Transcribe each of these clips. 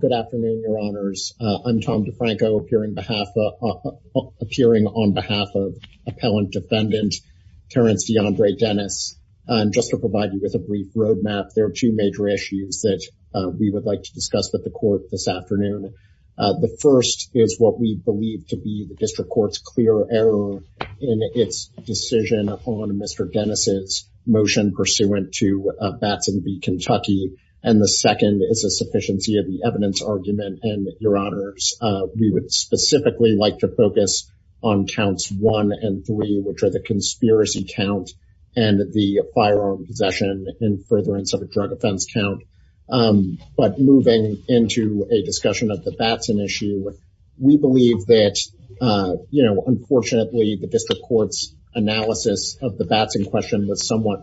Good afternoon, your honors. I'm Tom DeFranco, appearing on behalf of Appellant Defendant Terrance DeAndre Dennis. And just to provide you with a brief roadmap, there are two major issues that we would like to discuss with the court this afternoon. The first is what we believe to be the district court's clear error in its decision on Mr. Dennis's motion pursuant to Batson v. Kentucky. And the second is a sufficiency of the evidence argument. And your honors, we would specifically like to focus on counts one and three, which are the conspiracy count and the firearm possession in furtherance of a drug offense count. But moving into a discussion of the Batson issue, we believe that, you know, unfortunately, the district court's analysis of the Batson question was somewhat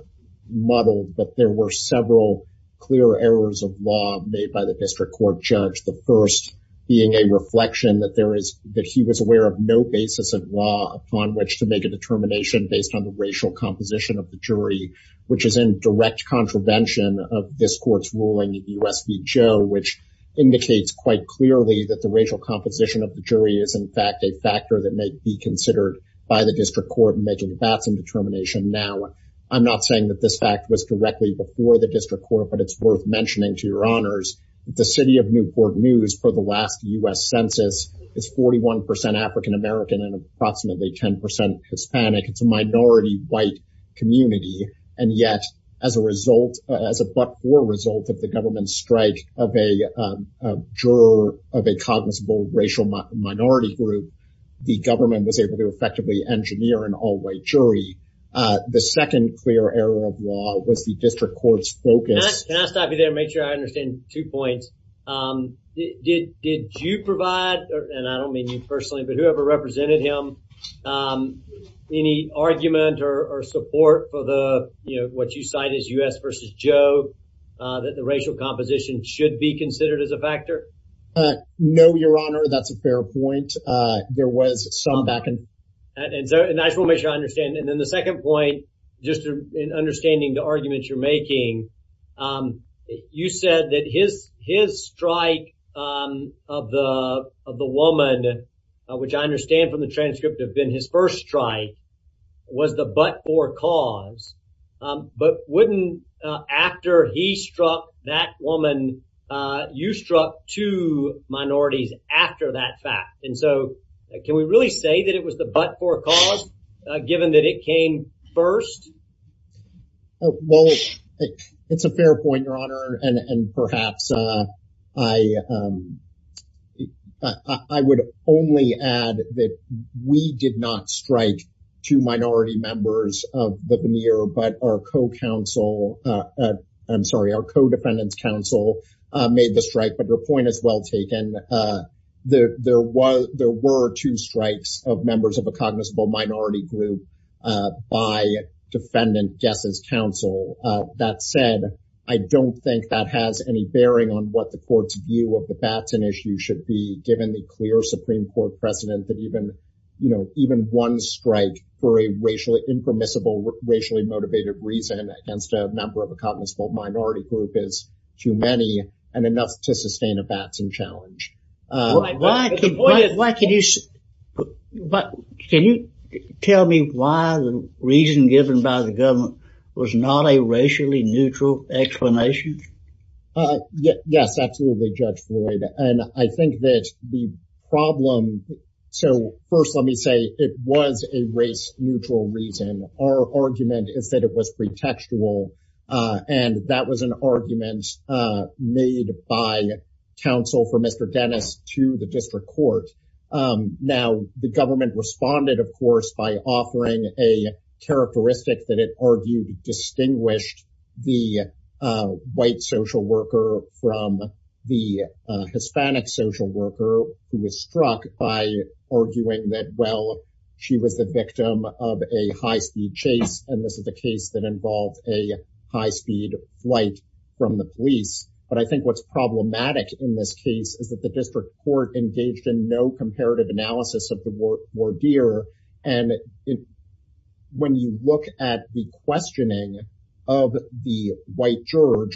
muddled, but there were several clear errors of law made by the district court judge. The first being a reflection that there is that he was aware of no basis of law upon which to make a determination based on the racial composition of the jury, which is in direct contravention of this court's ruling in the U.S. v. Joe, which indicates quite clearly that the racial composition of the jury is, in fact, a factor that may be considered by the district court in making the Batson determination. Now, I'm not saying that this fact was directly before the district court, but it's worth mentioning to your honors that the city of Newport News for the last U.S. census is 41 percent African American and approximately 10 percent Hispanic. It's a minority white community. And yet, as a result, as a but for result of the government's strike of a juror of a cognizable racial minority group, the government was able to effectively engineer an all-white jury. The second clear error of law was the district court's focus. Can I stop you there and make sure I understand two points? Did you provide, and I don't mean you personally, but whoever represented him, any argument or support for the, you know, what you cite as U.S. v. Joe, that the racial composition should be considered as a factor? No, your honor, that's a fair point. There was some back and forth. And so, and I just want to make sure I understand. And then the second point, just in understanding the arguments you're making, you said that his strike of the woman, which I understand from the transcript have been his first strike, was the but for cause. But wouldn't after he struck that woman, you struck two minorities after that fact? And so, can we really say that it was the but for cause, given that it came first? Well, it's a fair point, your honor. And perhaps I would only add that we did not strike two minority members of the veneer, but our co-counsel, I'm sorry, our co-defendant's counsel made the strike. But your point is well taken. There were two strikes of members of a cognizable minority group by defendant guess's counsel. That said, I don't think that has any bearing on what the court's view of the Batten issue should be, given the clear Supreme Court precedent that even, you know, even one strike for a racially impermissible, racially motivated reason against a member of a cognizable minority group is too many and enough to sustain a Batson challenge. Why can you, but can you tell me why the reason given by the government was not a racially neutral explanation? Yes, absolutely, Judge Floyd. And I think that the problem. So first, let me say, it was a race neutral reason. Our argument is that it was pretextual. And that was an argument made by counsel for Mr. Dennis to the district court. Now, the government responded, of course, by offering a characteristic that it argued distinguished the white social worker from the Hispanic social worker who was struck by arguing that, well, she was the victim of a high speed chase. And this is a case that involved a high speed flight from the police. But I think what's problematic in this case is that the district court engaged in no comparative analysis of the word or deer. And when you look at the questioning of the white juror,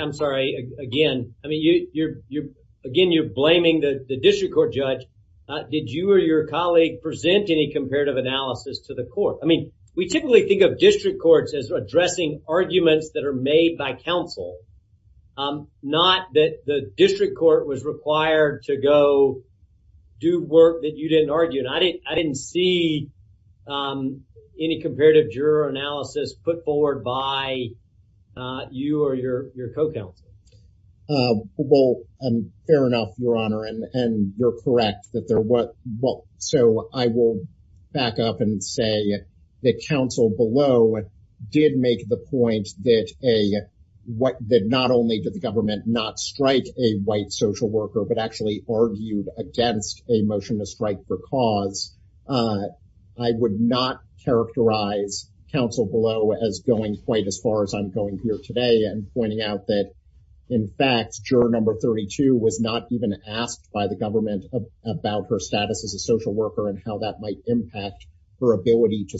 I'm sorry, again, I mean, you're you're again, you're blaming the district court judge. Did you or your colleague present any comparative analysis to the court? I mean, we typically think of district courts as addressing arguments that are made by counsel, not that the district court was required to go do work that you didn't argue. And I didn't I didn't see any comparative juror analysis put forward by you or your your co counsel. Well, I'm fair enough, Your Honor, and you're correct that there was well, so I will back up and say that counsel below did make the point that a what did not only did the government not strike a white social worker, but actually argued against a motion to strike for cause. I would not characterize counsel below as going quite as far as I'm going here today and pointing out that, in fact, juror number 32 was not even asked by the government about her status as a social worker and how that might impact her ability to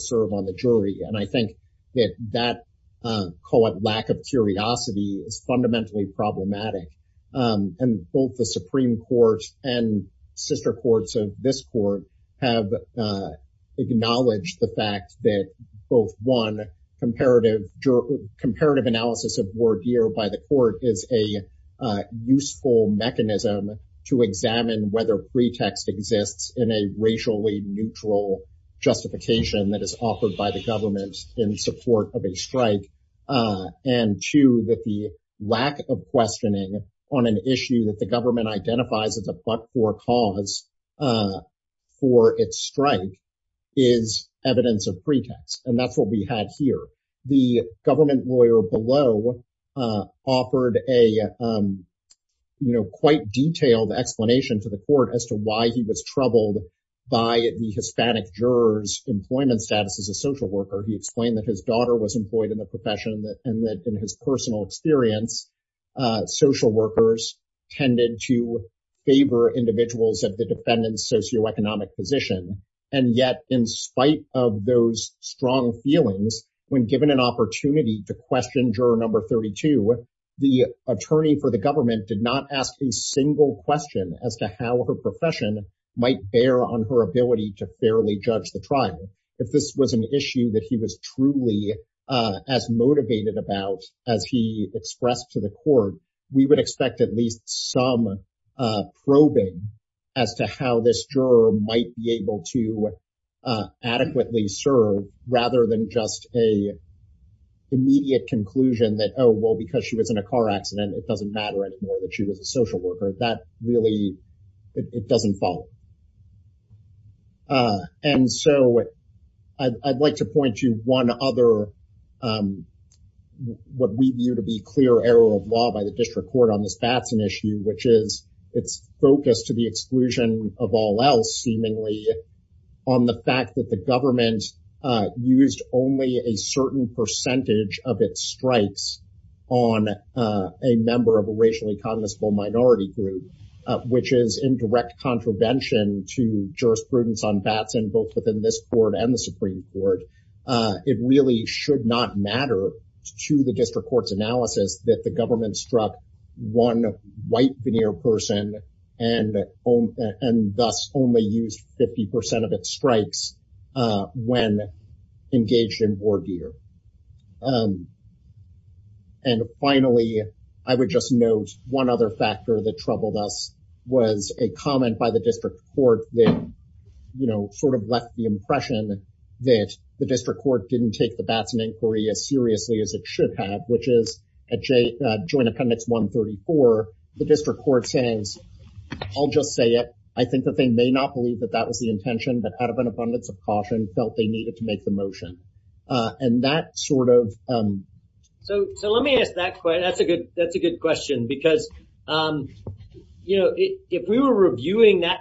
is fundamentally problematic. And both the Supreme Court and sister courts of this court have acknowledged the fact that both one comparative juror comparative analysis of word here by the court is a useful mechanism to examine whether pretext exists in a racially neutral justification that is offered by the government in support of a strike. And two, that the lack of questioning on an issue that the government identifies as a but for cause for its strike is evidence of pretext. And that's what we had here. The government lawyer below offered a quite detailed explanation to the court as to why he was troubled by the Hispanic jurors employment status as a social worker. He explained that his daughter was employed in the profession and that in his personal experience, social workers tended to favor individuals at the defendant's socioeconomic position. And yet, in spite of those strong feelings, when given an opportunity to question juror number 32, the attorney for the government did not ask a single question as to how her profession might bear on her ability to fairly judge the trial. If this was an issue that he was truly as motivated about as he expressed to the court, we would expect at least some probing as to how this juror might be able to adequately serve rather than just a immediate conclusion that, oh, well, because she was in a car accident, it doesn't matter anymore that she was a social worker. That really, it doesn't follow. And so, I'd like to point to one other, what we view to be clear error of law by the district court on this Batson issue, which is its focus to the exclusion of all else, seemingly, on the fact that the government used only a certain percentage of its strikes on a member of a racially cognizable minority group, which is in direct contravention to jurisprudence on Batson, both within this court and the Supreme Court. It really should not matter to the district analysis that the government struck one white veneer person and thus only used 50% of its strikes when engaged in war gear. And finally, I would just note one other factor that troubled us was a comment by the district court that, you know, sort of left the impression that the district at Joint Appendix 134, the district court says, I'll just say it. I think that they may not believe that that was the intention, but out of an abundance of caution, felt they needed to make the motion. And that sort of... So, let me ask that question. That's a good question because, you know, if we were reviewing that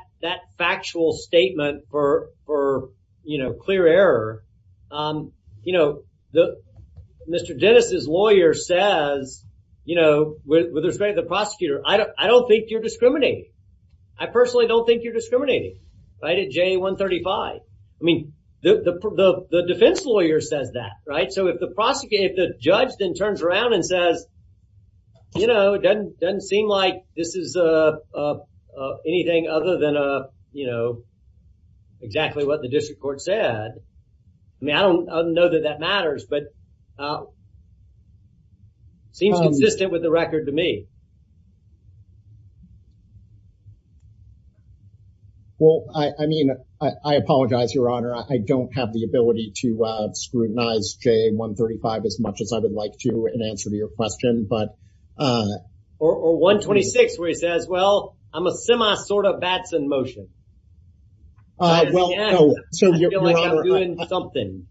factual statement for, you know, clear error, you know, Mr. Dennis's lawyer says, you know, with respect to the prosecutor, I don't think you're discriminating. I personally don't think you're discriminating, right, at J135. I mean, the defense lawyer says that, right? So, if the judge then turns around and says, you know, it doesn't seem like this is anything other than, you know, exactly what the district court said. I mean, I don't know that that matters, but seems consistent with the record to me. Well, I mean, I apologize, Your Honor. I don't have the ability to scrutinize J135 as much as I would like to in answer to your question, but... Or 126, where he says, well, I'm a sort of Batson motion. I feel like I'm doing something.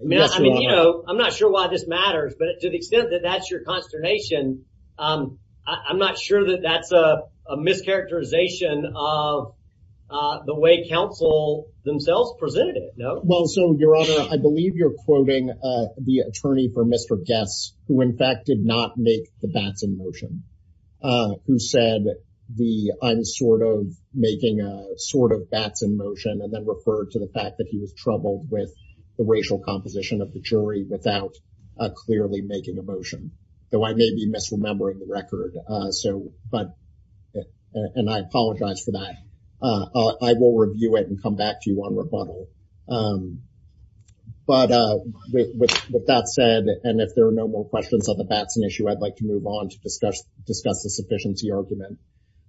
I mean, you know, I'm not sure why this matters, but to the extent that that's your consternation, I'm not sure that that's a mischaracterization of the way counsel themselves presented it, no? Well, so, Your Honor, I believe you're quoting the attorney for Mr. Guess, who in fact did not make the Batson motion, who said the, I'm sort of making a sort of Batson motion, and then referred to the fact that he was troubled with the racial composition of the jury without clearly making a motion. Though I may be misremembering the record. So, but, and I apologize for that. I will review it and come back to you on rebuttal. But with that said, and if there are no more questions on the Batson issue, I'd like to move on to discuss the sufficiency argument.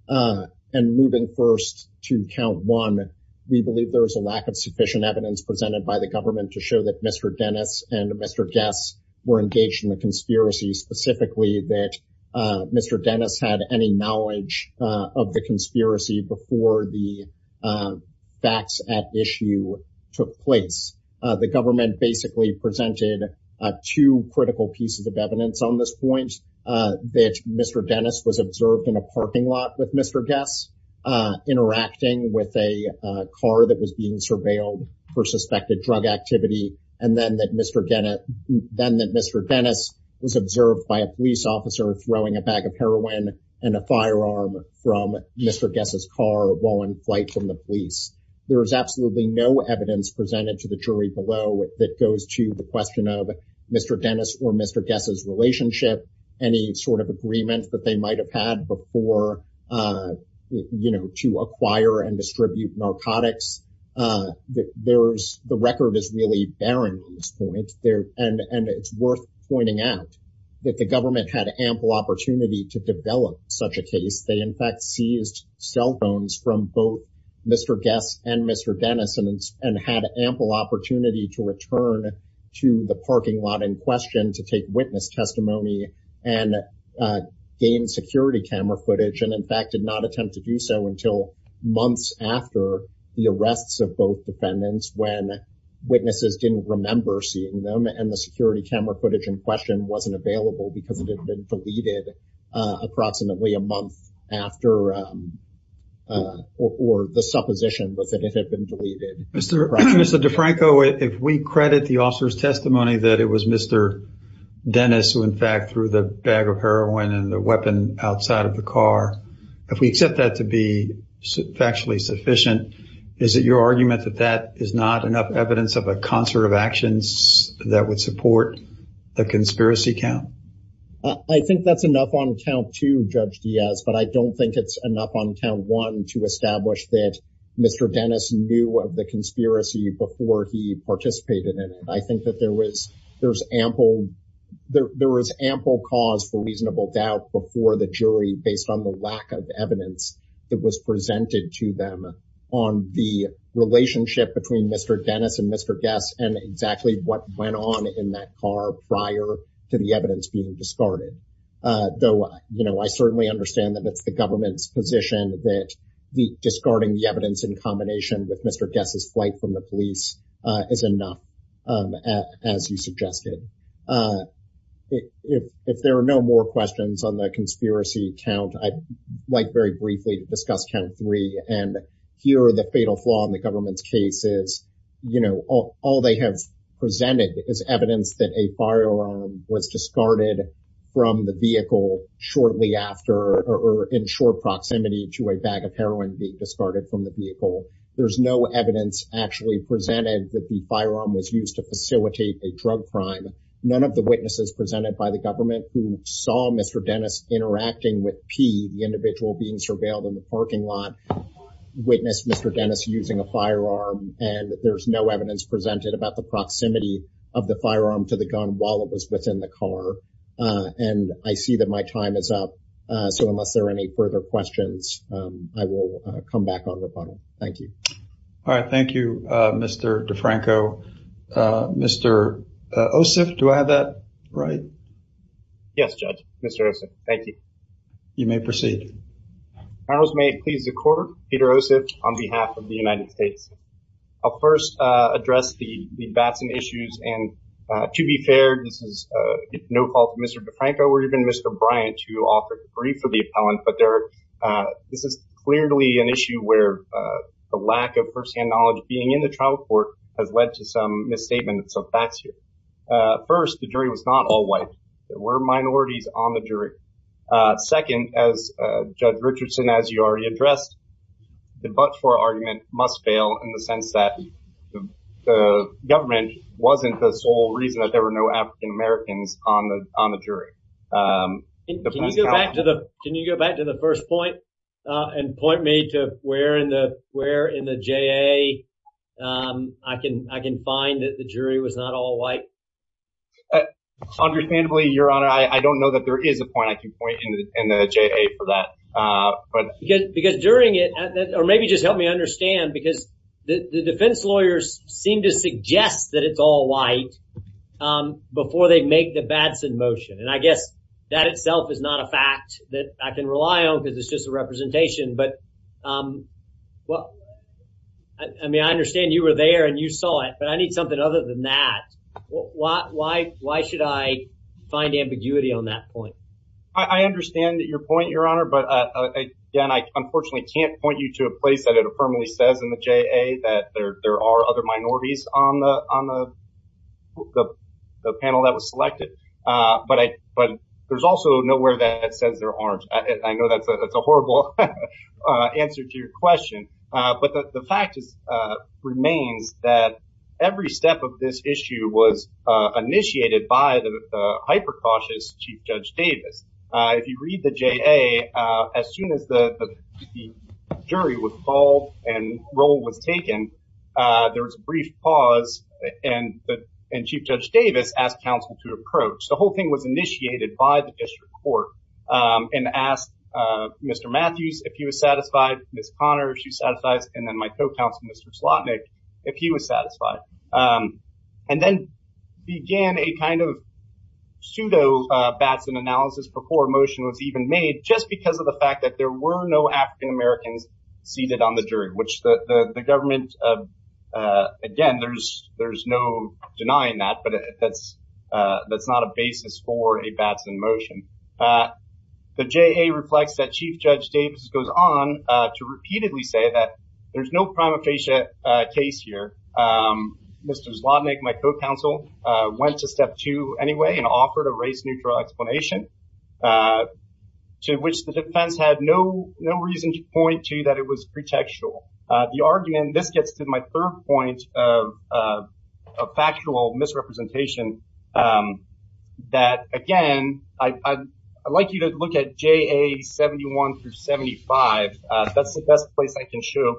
And moving first to count one, we believe there is a lack of sufficient evidence presented by the government to show that Mr. Dennis and Mr. Guess were engaged in a conspiracy, specifically that Mr. Dennis had any knowledge of the conspiracy before the facts at issue took place. The government basically presented two critical pieces of evidence on this point, that Mr. Dennis was observed in a parking lot with Mr. Guess, interacting with a car that was being surveilled for suspected drug activity, and then that Mr. Dennis was observed by a police officer throwing a bag of heroin and a firearm from Mr. Guess's car while in flight from the police. There is absolutely no evidence presented to the jury below that goes to the question of Mr. Dennis or Mr. Guess's relationship, any sort of agreement that they might have had before, you know, to acquire and distribute narcotics. The record is really barren at this point. And it's worth pointing out that the government had ample opportunity to develop such a case. They in fact seized cell phones from both Mr. Guess and Mr. Dennis and had ample opportunity to return to the parking lot in question to take witness testimony and gain security camera footage, and in fact did not attempt to do so until months after the arrests of both defendants when witnesses didn't remember seeing them and the security camera footage in question wasn't available because it had been deleted approximately a month after or the supposition was that it had been deleted. Mr. DeFranco, if we credit the officer's testimony that it was Mr. Dennis who in fact threw the bag of heroin and the weapon outside of the car, if we accept that to be factually sufficient, is it your argument that that is not enough evidence of a concert of actions that would judge Diaz, but I don't think it's enough on count one to establish that Mr. Dennis knew of the conspiracy before he participated in it. I think that there was ample cause for reasonable doubt before the jury based on the lack of evidence that was presented to them on the relationship between Mr. Dennis and Mr. Guess and exactly what went on in that car prior to the you know, I certainly understand that it's the government's position that the discarding the evidence in combination with Mr. Guess's flight from the police is enough as you suggested. If there are no more questions on the conspiracy count, I'd like very briefly to discuss count three and here the fatal flaw in the government's case is, you know, all they have presented is evidence that a firearm was discarded from the vehicle shortly after or in short proximity to a bag of heroin being discarded from the vehicle. There's no evidence actually presented that the firearm was used to facilitate a drug crime. None of the witnesses presented by the government who saw Mr. Dennis interacting with P, the individual being surveilled in the parking lot, witnessed Mr. Dennis using a firearm and there's no evidence presented about the proximity of the firearm to the gun while it was within the and I see that my time is up. So unless there are any further questions, I will come back on rebuttal. Thank you. All right. Thank you, Mr. DeFranco. Mr. Ossoff, do I have that right? Yes, Judge. Mr. Ossoff, thank you. You may proceed. Your Honors, may it please the court, Peter Ossoff on behalf of the United States. I'll first address the Batson issues and to be fair, this is no fault of Mr. DeFranco or even Mr. Bryant to offer to brief for the appellant, but this is clearly an issue where the lack of firsthand knowledge being in the trial court has led to some misstatements of facts here. First, the jury was not all white. There were minorities on the jury. Second, as Judge Richardson, as you already addressed, the but-for argument must fail in the sense that the government wasn't the sole reason that there were no African-Americans on the jury. Can you go back to the first point and point me to where in the JA I can find that the jury was not all white? Understandably, Your Honor, I don't know that there is a point I can point in the JA for that. Because during it, or maybe just help me understand, because the defense lawyers seem to suggest that it's all white before they make the Batson motion, and I guess that itself is not a fact that I can rely on because it's just a representation, but I mean, I understand you were there and you saw it, but I need something other than that. Why should I find ambiguity on that point? I understand that your point, Your Honor, but again, I unfortunately can't point you to a place that it affirmatively says in the JA that there are other minorities on the panel that was selected. But there's also nowhere that it says there aren't. I know that's a horrible answer to your question, but the fact remains that every step of this issue was initiated by the hyper judge Davis. If you read the JA, as soon as the jury was called and roll was taken, there was a brief pause, and Chief Judge Davis asked counsel to approach. The whole thing was initiated by the district court and asked Mr. Matthews if he was satisfied, Ms. Connor, if she's satisfied, and my co-counsel, Mr. Slotnick, if he was satisfied, and then began a kind of pseudo Batson analysis before a motion was even made just because of the fact that there were no African Americans seated on the jury, which the government, again, there's no denying that, but that's not a basis for a Batson motion. The JA reflects that Chief Judge Davis goes on to repeatedly say that there's no prima facie case here. Mr. Slotnick, my co-counsel, went to step two anyway and offered a race-neutral explanation to which the defense had no reason to point to that it was pretextual. The argument, this gets to my third point of factual misrepresentation that, again, I'd like you to look at JA 71 through 75. That's the best place I can show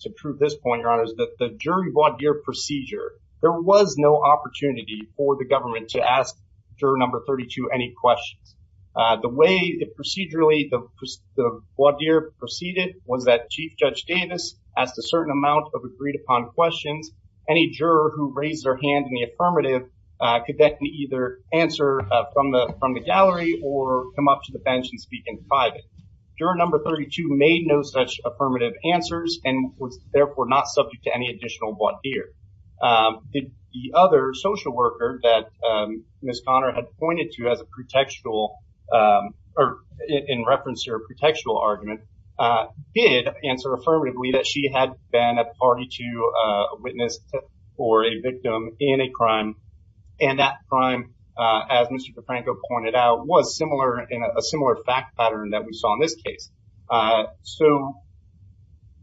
to prove this point, Your Honor, is that the jury voir dire procedure, there was no opportunity for the government to ask juror number 32 any questions. The way procedurally the voir dire proceeded was that Chief Judge Davis asked a certain amount of agreed-upon questions. Any juror who raised their from the gallery or come up to the bench and speak in private. Juror number 32 made no such affirmative answers and was therefore not subject to any additional voir dire. Did the other social worker that Ms. Conner had pointed to as a pretextual, or in reference to her pretextual argument, did answer affirmatively that she had been a party to a witness or a victim in a crime, and that crime, as Mr. DeFranco pointed out, was a similar fact pattern that we saw in this case. So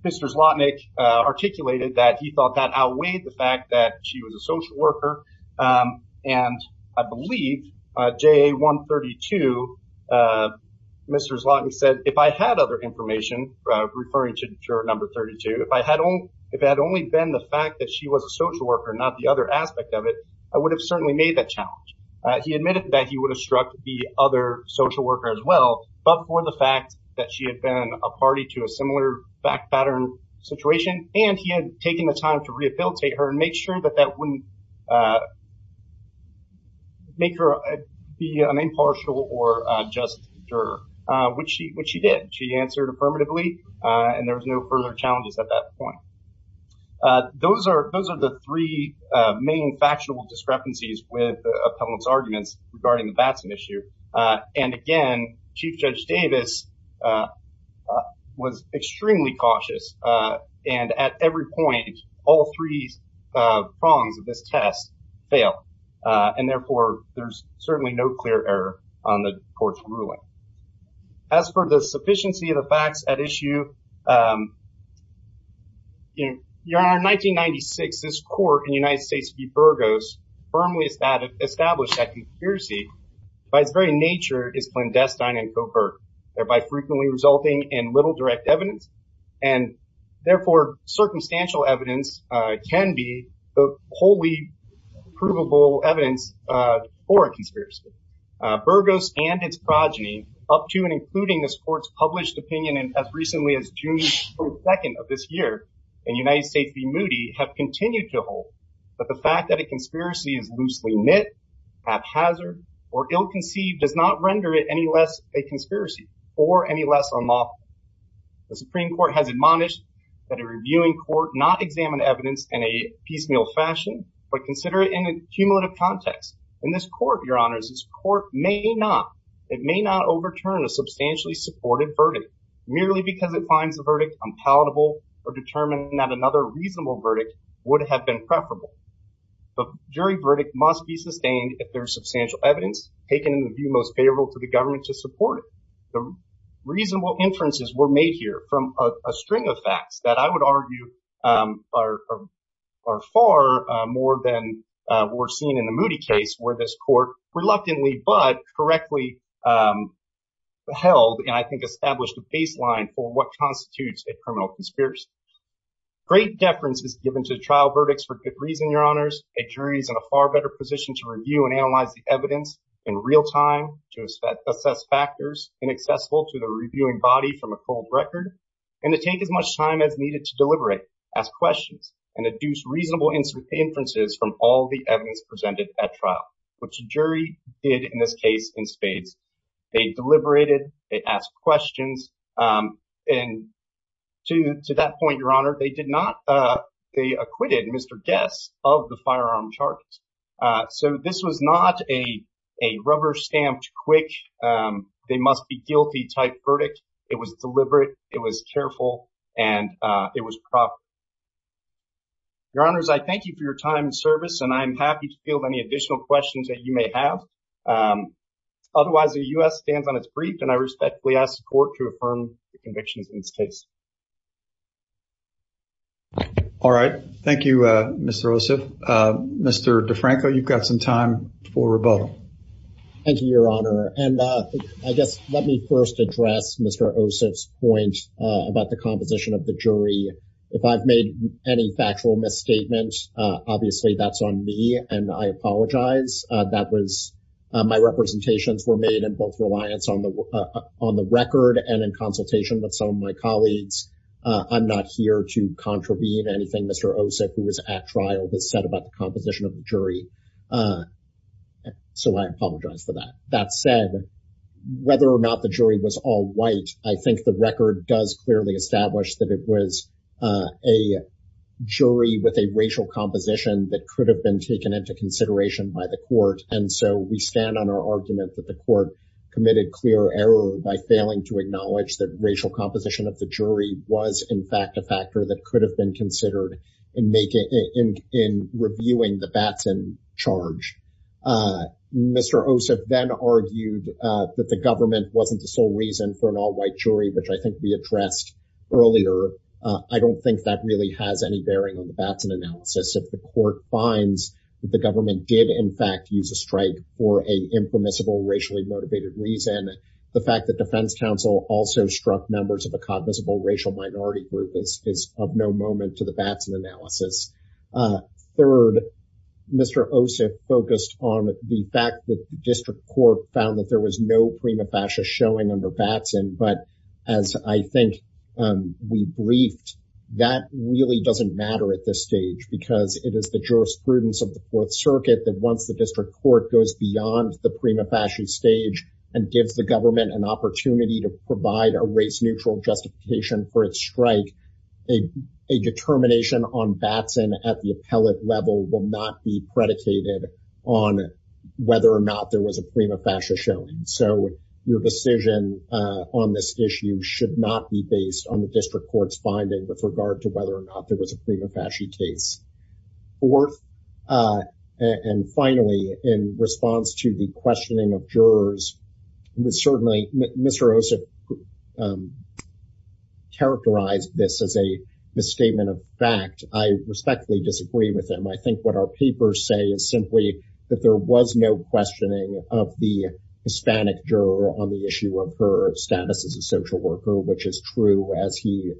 Mr. Zlotnick articulated that he thought that outweighed the fact that she was a social worker, and I believe JA 132, Mr. Zlotnick said, if I had other information, referring to juror number 32, if it had only been the fact that she was a social worker, not the other aspect of it, I would have certainly made that challenge. He admitted that he would have struck the other social worker as well, but for the fact that she had been a party to a similar fact pattern situation, and he had taken the time to rehabilitate her and make sure that that wouldn't make her be an impartial or just juror. Would she answer affirmatively, and there was no further challenges at that point. Those are the three main factional discrepancies with Appellant's arguments regarding the Batson issue, and again, Chief Judge Davis was extremely cautious, and at every point, all three prongs of this test fail, and therefore there's certainly no clear error on the court's ruling. As for the sufficiency of the facts at issue, Your Honor, in 1996, this court in the United States v. Burgos firmly established that conspiracy by its very nature is clandestine and covert, thereby frequently resulting in little direct evidence, and therefore circumstantial evidence can be wholly provable evidence for a conspiracy. Burgos and its progeny, up to and including this court's published opinion as recently as June 22nd of this year in United States v. Moody, have continued to hold that the fact that a conspiracy is loosely knit, haphazard, or ill-conceived does not render it any less a conspiracy or any less unlawful. The Supreme Court has admonished that a reviewing court not examine evidence in a piecemeal fashion, but consider it in a cumulative context. In this court, Your Honors, this court may not, it may not overturn a substantially supported verdict merely because it finds the verdict unpalatable or determined that another reasonable verdict would have been preferable. The jury verdict must be sustained if there is substantial evidence taken in the view most favorable to the inferences were made here from a string of facts that I would argue are far more than were seen in the Moody case where this court reluctantly but correctly held and I think established a baseline for what constitutes a criminal conspiracy. Great deference is given to trial verdicts for good reason, Your Honors. A jury is in a far better position to review and from a cold record and to take as much time as needed to deliberate, ask questions, and deduce reasonable inferences from all the evidence presented at trial, which a jury did in this case in spades. They deliberated, they asked questions, and to that point, Your Honor, they did not, they acquitted Mr. Guess of the firearm charges. So this was not a rubber-stamped quick, they must be guilty type verdict. It was deliberate, it was careful, and it was proper. Your Honors, I thank you for your time and service and I'm happy to field any additional questions that you may have. Otherwise, the U.S. stands on its brief and I respectfully ask the court to affirm the convictions in this case. All right. Thank you, Mr. Ossoff. Mr. DeFranco, you've got some time for rebuttal. Thank you, Your Honor. And I guess let me first address Mr. Ossoff's point about the composition of the jury. If I've made any factual misstatement, obviously that's on me and I apologize. That was, my representations were made in both reliance on the record and in consultation with some of my colleagues. I'm not here to contravene anything Mr. Ossoff, who was at trial, has said about the composition of the jury. So I apologize for that. That said, whether or not the jury was all white, I think the record does clearly establish that it was a jury with a racial composition that could have been taken into consideration by the court. And so we stand on our argument that the court committed clear error by failing to acknowledge that racial composition of the jury was in fact a factor that could have been considered in reviewing the Batson charge. Mr. Ossoff then argued that the government wasn't the sole reason for an all-white jury, which I think we addressed earlier. I don't think that really has any bearing on the Batson analysis. If the court finds that the government did in fact use a strike for an impermissible racially motivated reason, the fact that defense counsel also struck members of a cognizable racial minority group is of no moment to the Batson analysis. Third, Mr. Ossoff focused on the fact that the district court found that there was no prima facie showing under Batson, but as I think we briefed, that really doesn't matter at this stage because it is the jurisprudence of the Fourth Circuit that once the district court goes beyond the prima facie stage and gives the government an opportunity to provide a race neutral justification for its strike, a determination on Batson at the appellate level will not be predicated on whether or not there was a prima facie showing. So your decision on this issue should not be based on the district court's finding with regard to whether or not there was a prima facie case. Fourth, and finally, in response to the questioning of jurors, certainly Mr. Ossoff characterized this as a misstatement of fact. I respectfully disagree with him. I think what our papers say is simply that there was no questioning of the Hispanic juror on the issue of her status as a social worker, which is true, as he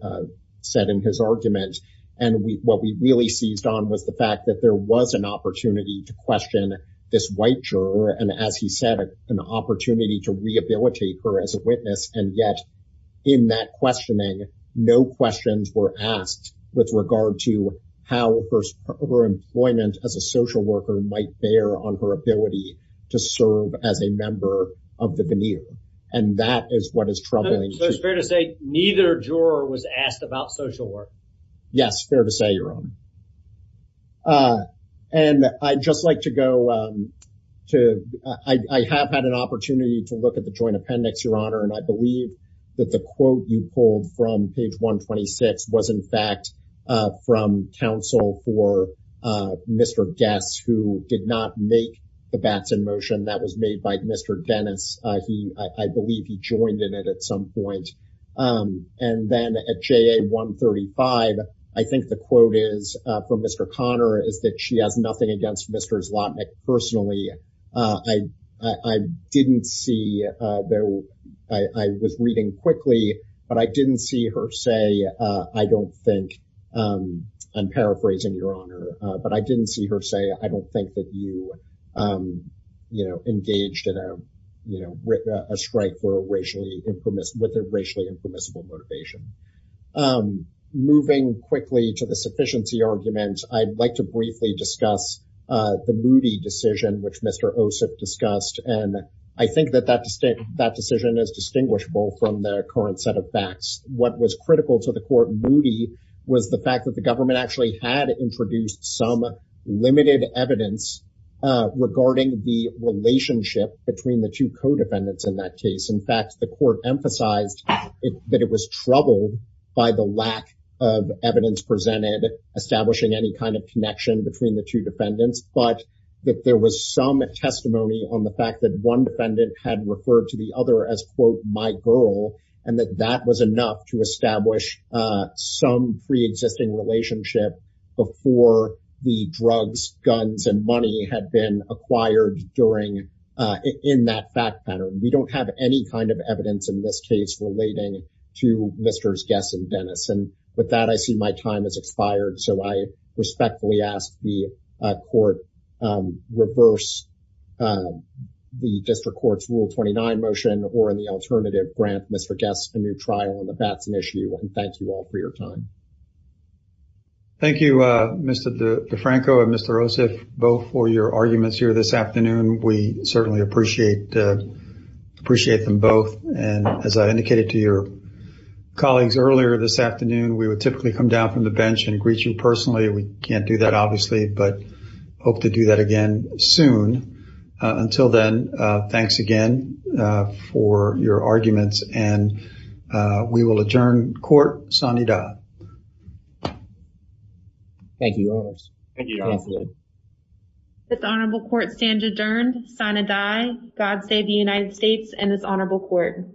said in his argument. And what we really seized on was the fact that there was an opportunity to question this white juror, and as he said, an opportunity to rehabilitate her as a witness. And yet, in that questioning, no questions were asked with regard to how her employment as a social worker might bear on her ability to serve as a member of the veneer. And that is what is troubling. So it's fair to say neither juror was asked about social work? Yes, fair to say, Your Honor. And I'd just like to go to, I have had an opportunity to look at the joint appendix, Your Honor, and I believe that the quote you pulled from page 126 was, in fact, from counsel for Mr. Guess, who did not make the Batson motion. That was made by Mr. Dennis. I believe he joined in it at some point. And then at JA 135, I think the quote is, from Mr. Conner, is that she has nothing against Mr. Zlotnick personally. I didn't see, I was reading quickly, but I didn't see her say, I don't think, I'm paraphrasing, Your Honor, but I didn't see her say, I don't think that you engaged in a strike with a racially impermissible motivation. Moving quickly to the sufficiency argument, I'd like to briefly discuss the Moody decision, which Mr. Osip discussed. And I think that that decision is distinguishable from the current set of facts. What was critical to the court Moody was the fact that the government actually had introduced some limited evidence regarding the relationship between the two co-defendants in that case. In fact, the court emphasized that it was troubled by the lack of evidence presented establishing any kind of connection between the two defendants, but that there was some testimony on the fact that one defendant had referred to the other as, quote, my girl, and that that was enough to establish some preexisting relationship before the drugs, guns, and money had been acquired during, in that fact pattern. We don't have any kind of evidence in this case relating to Mr. Gess and Dennis. And with that, I see my time has expired. So I respectfully ask the court reverse the district court's Rule 29 motion or in the alternative grant Mr. Gess a new trial on the Batson issue. And thank you all for your time. Thank you, Mr. DeFranco and Mr. Osip, both for your arguments here this afternoon. We certainly appreciate them both. And as I indicated to your colleagues earlier this afternoon, we would typically come down from the bench and greet you personally. We can't do that obviously, but hope to do that again soon. Until then, thanks again for your arguments and we will adjourn court. Sani Da. Thank you all. Thank you. This honorable court stands adjourned. Sani Da. God save the United States and this honorable court.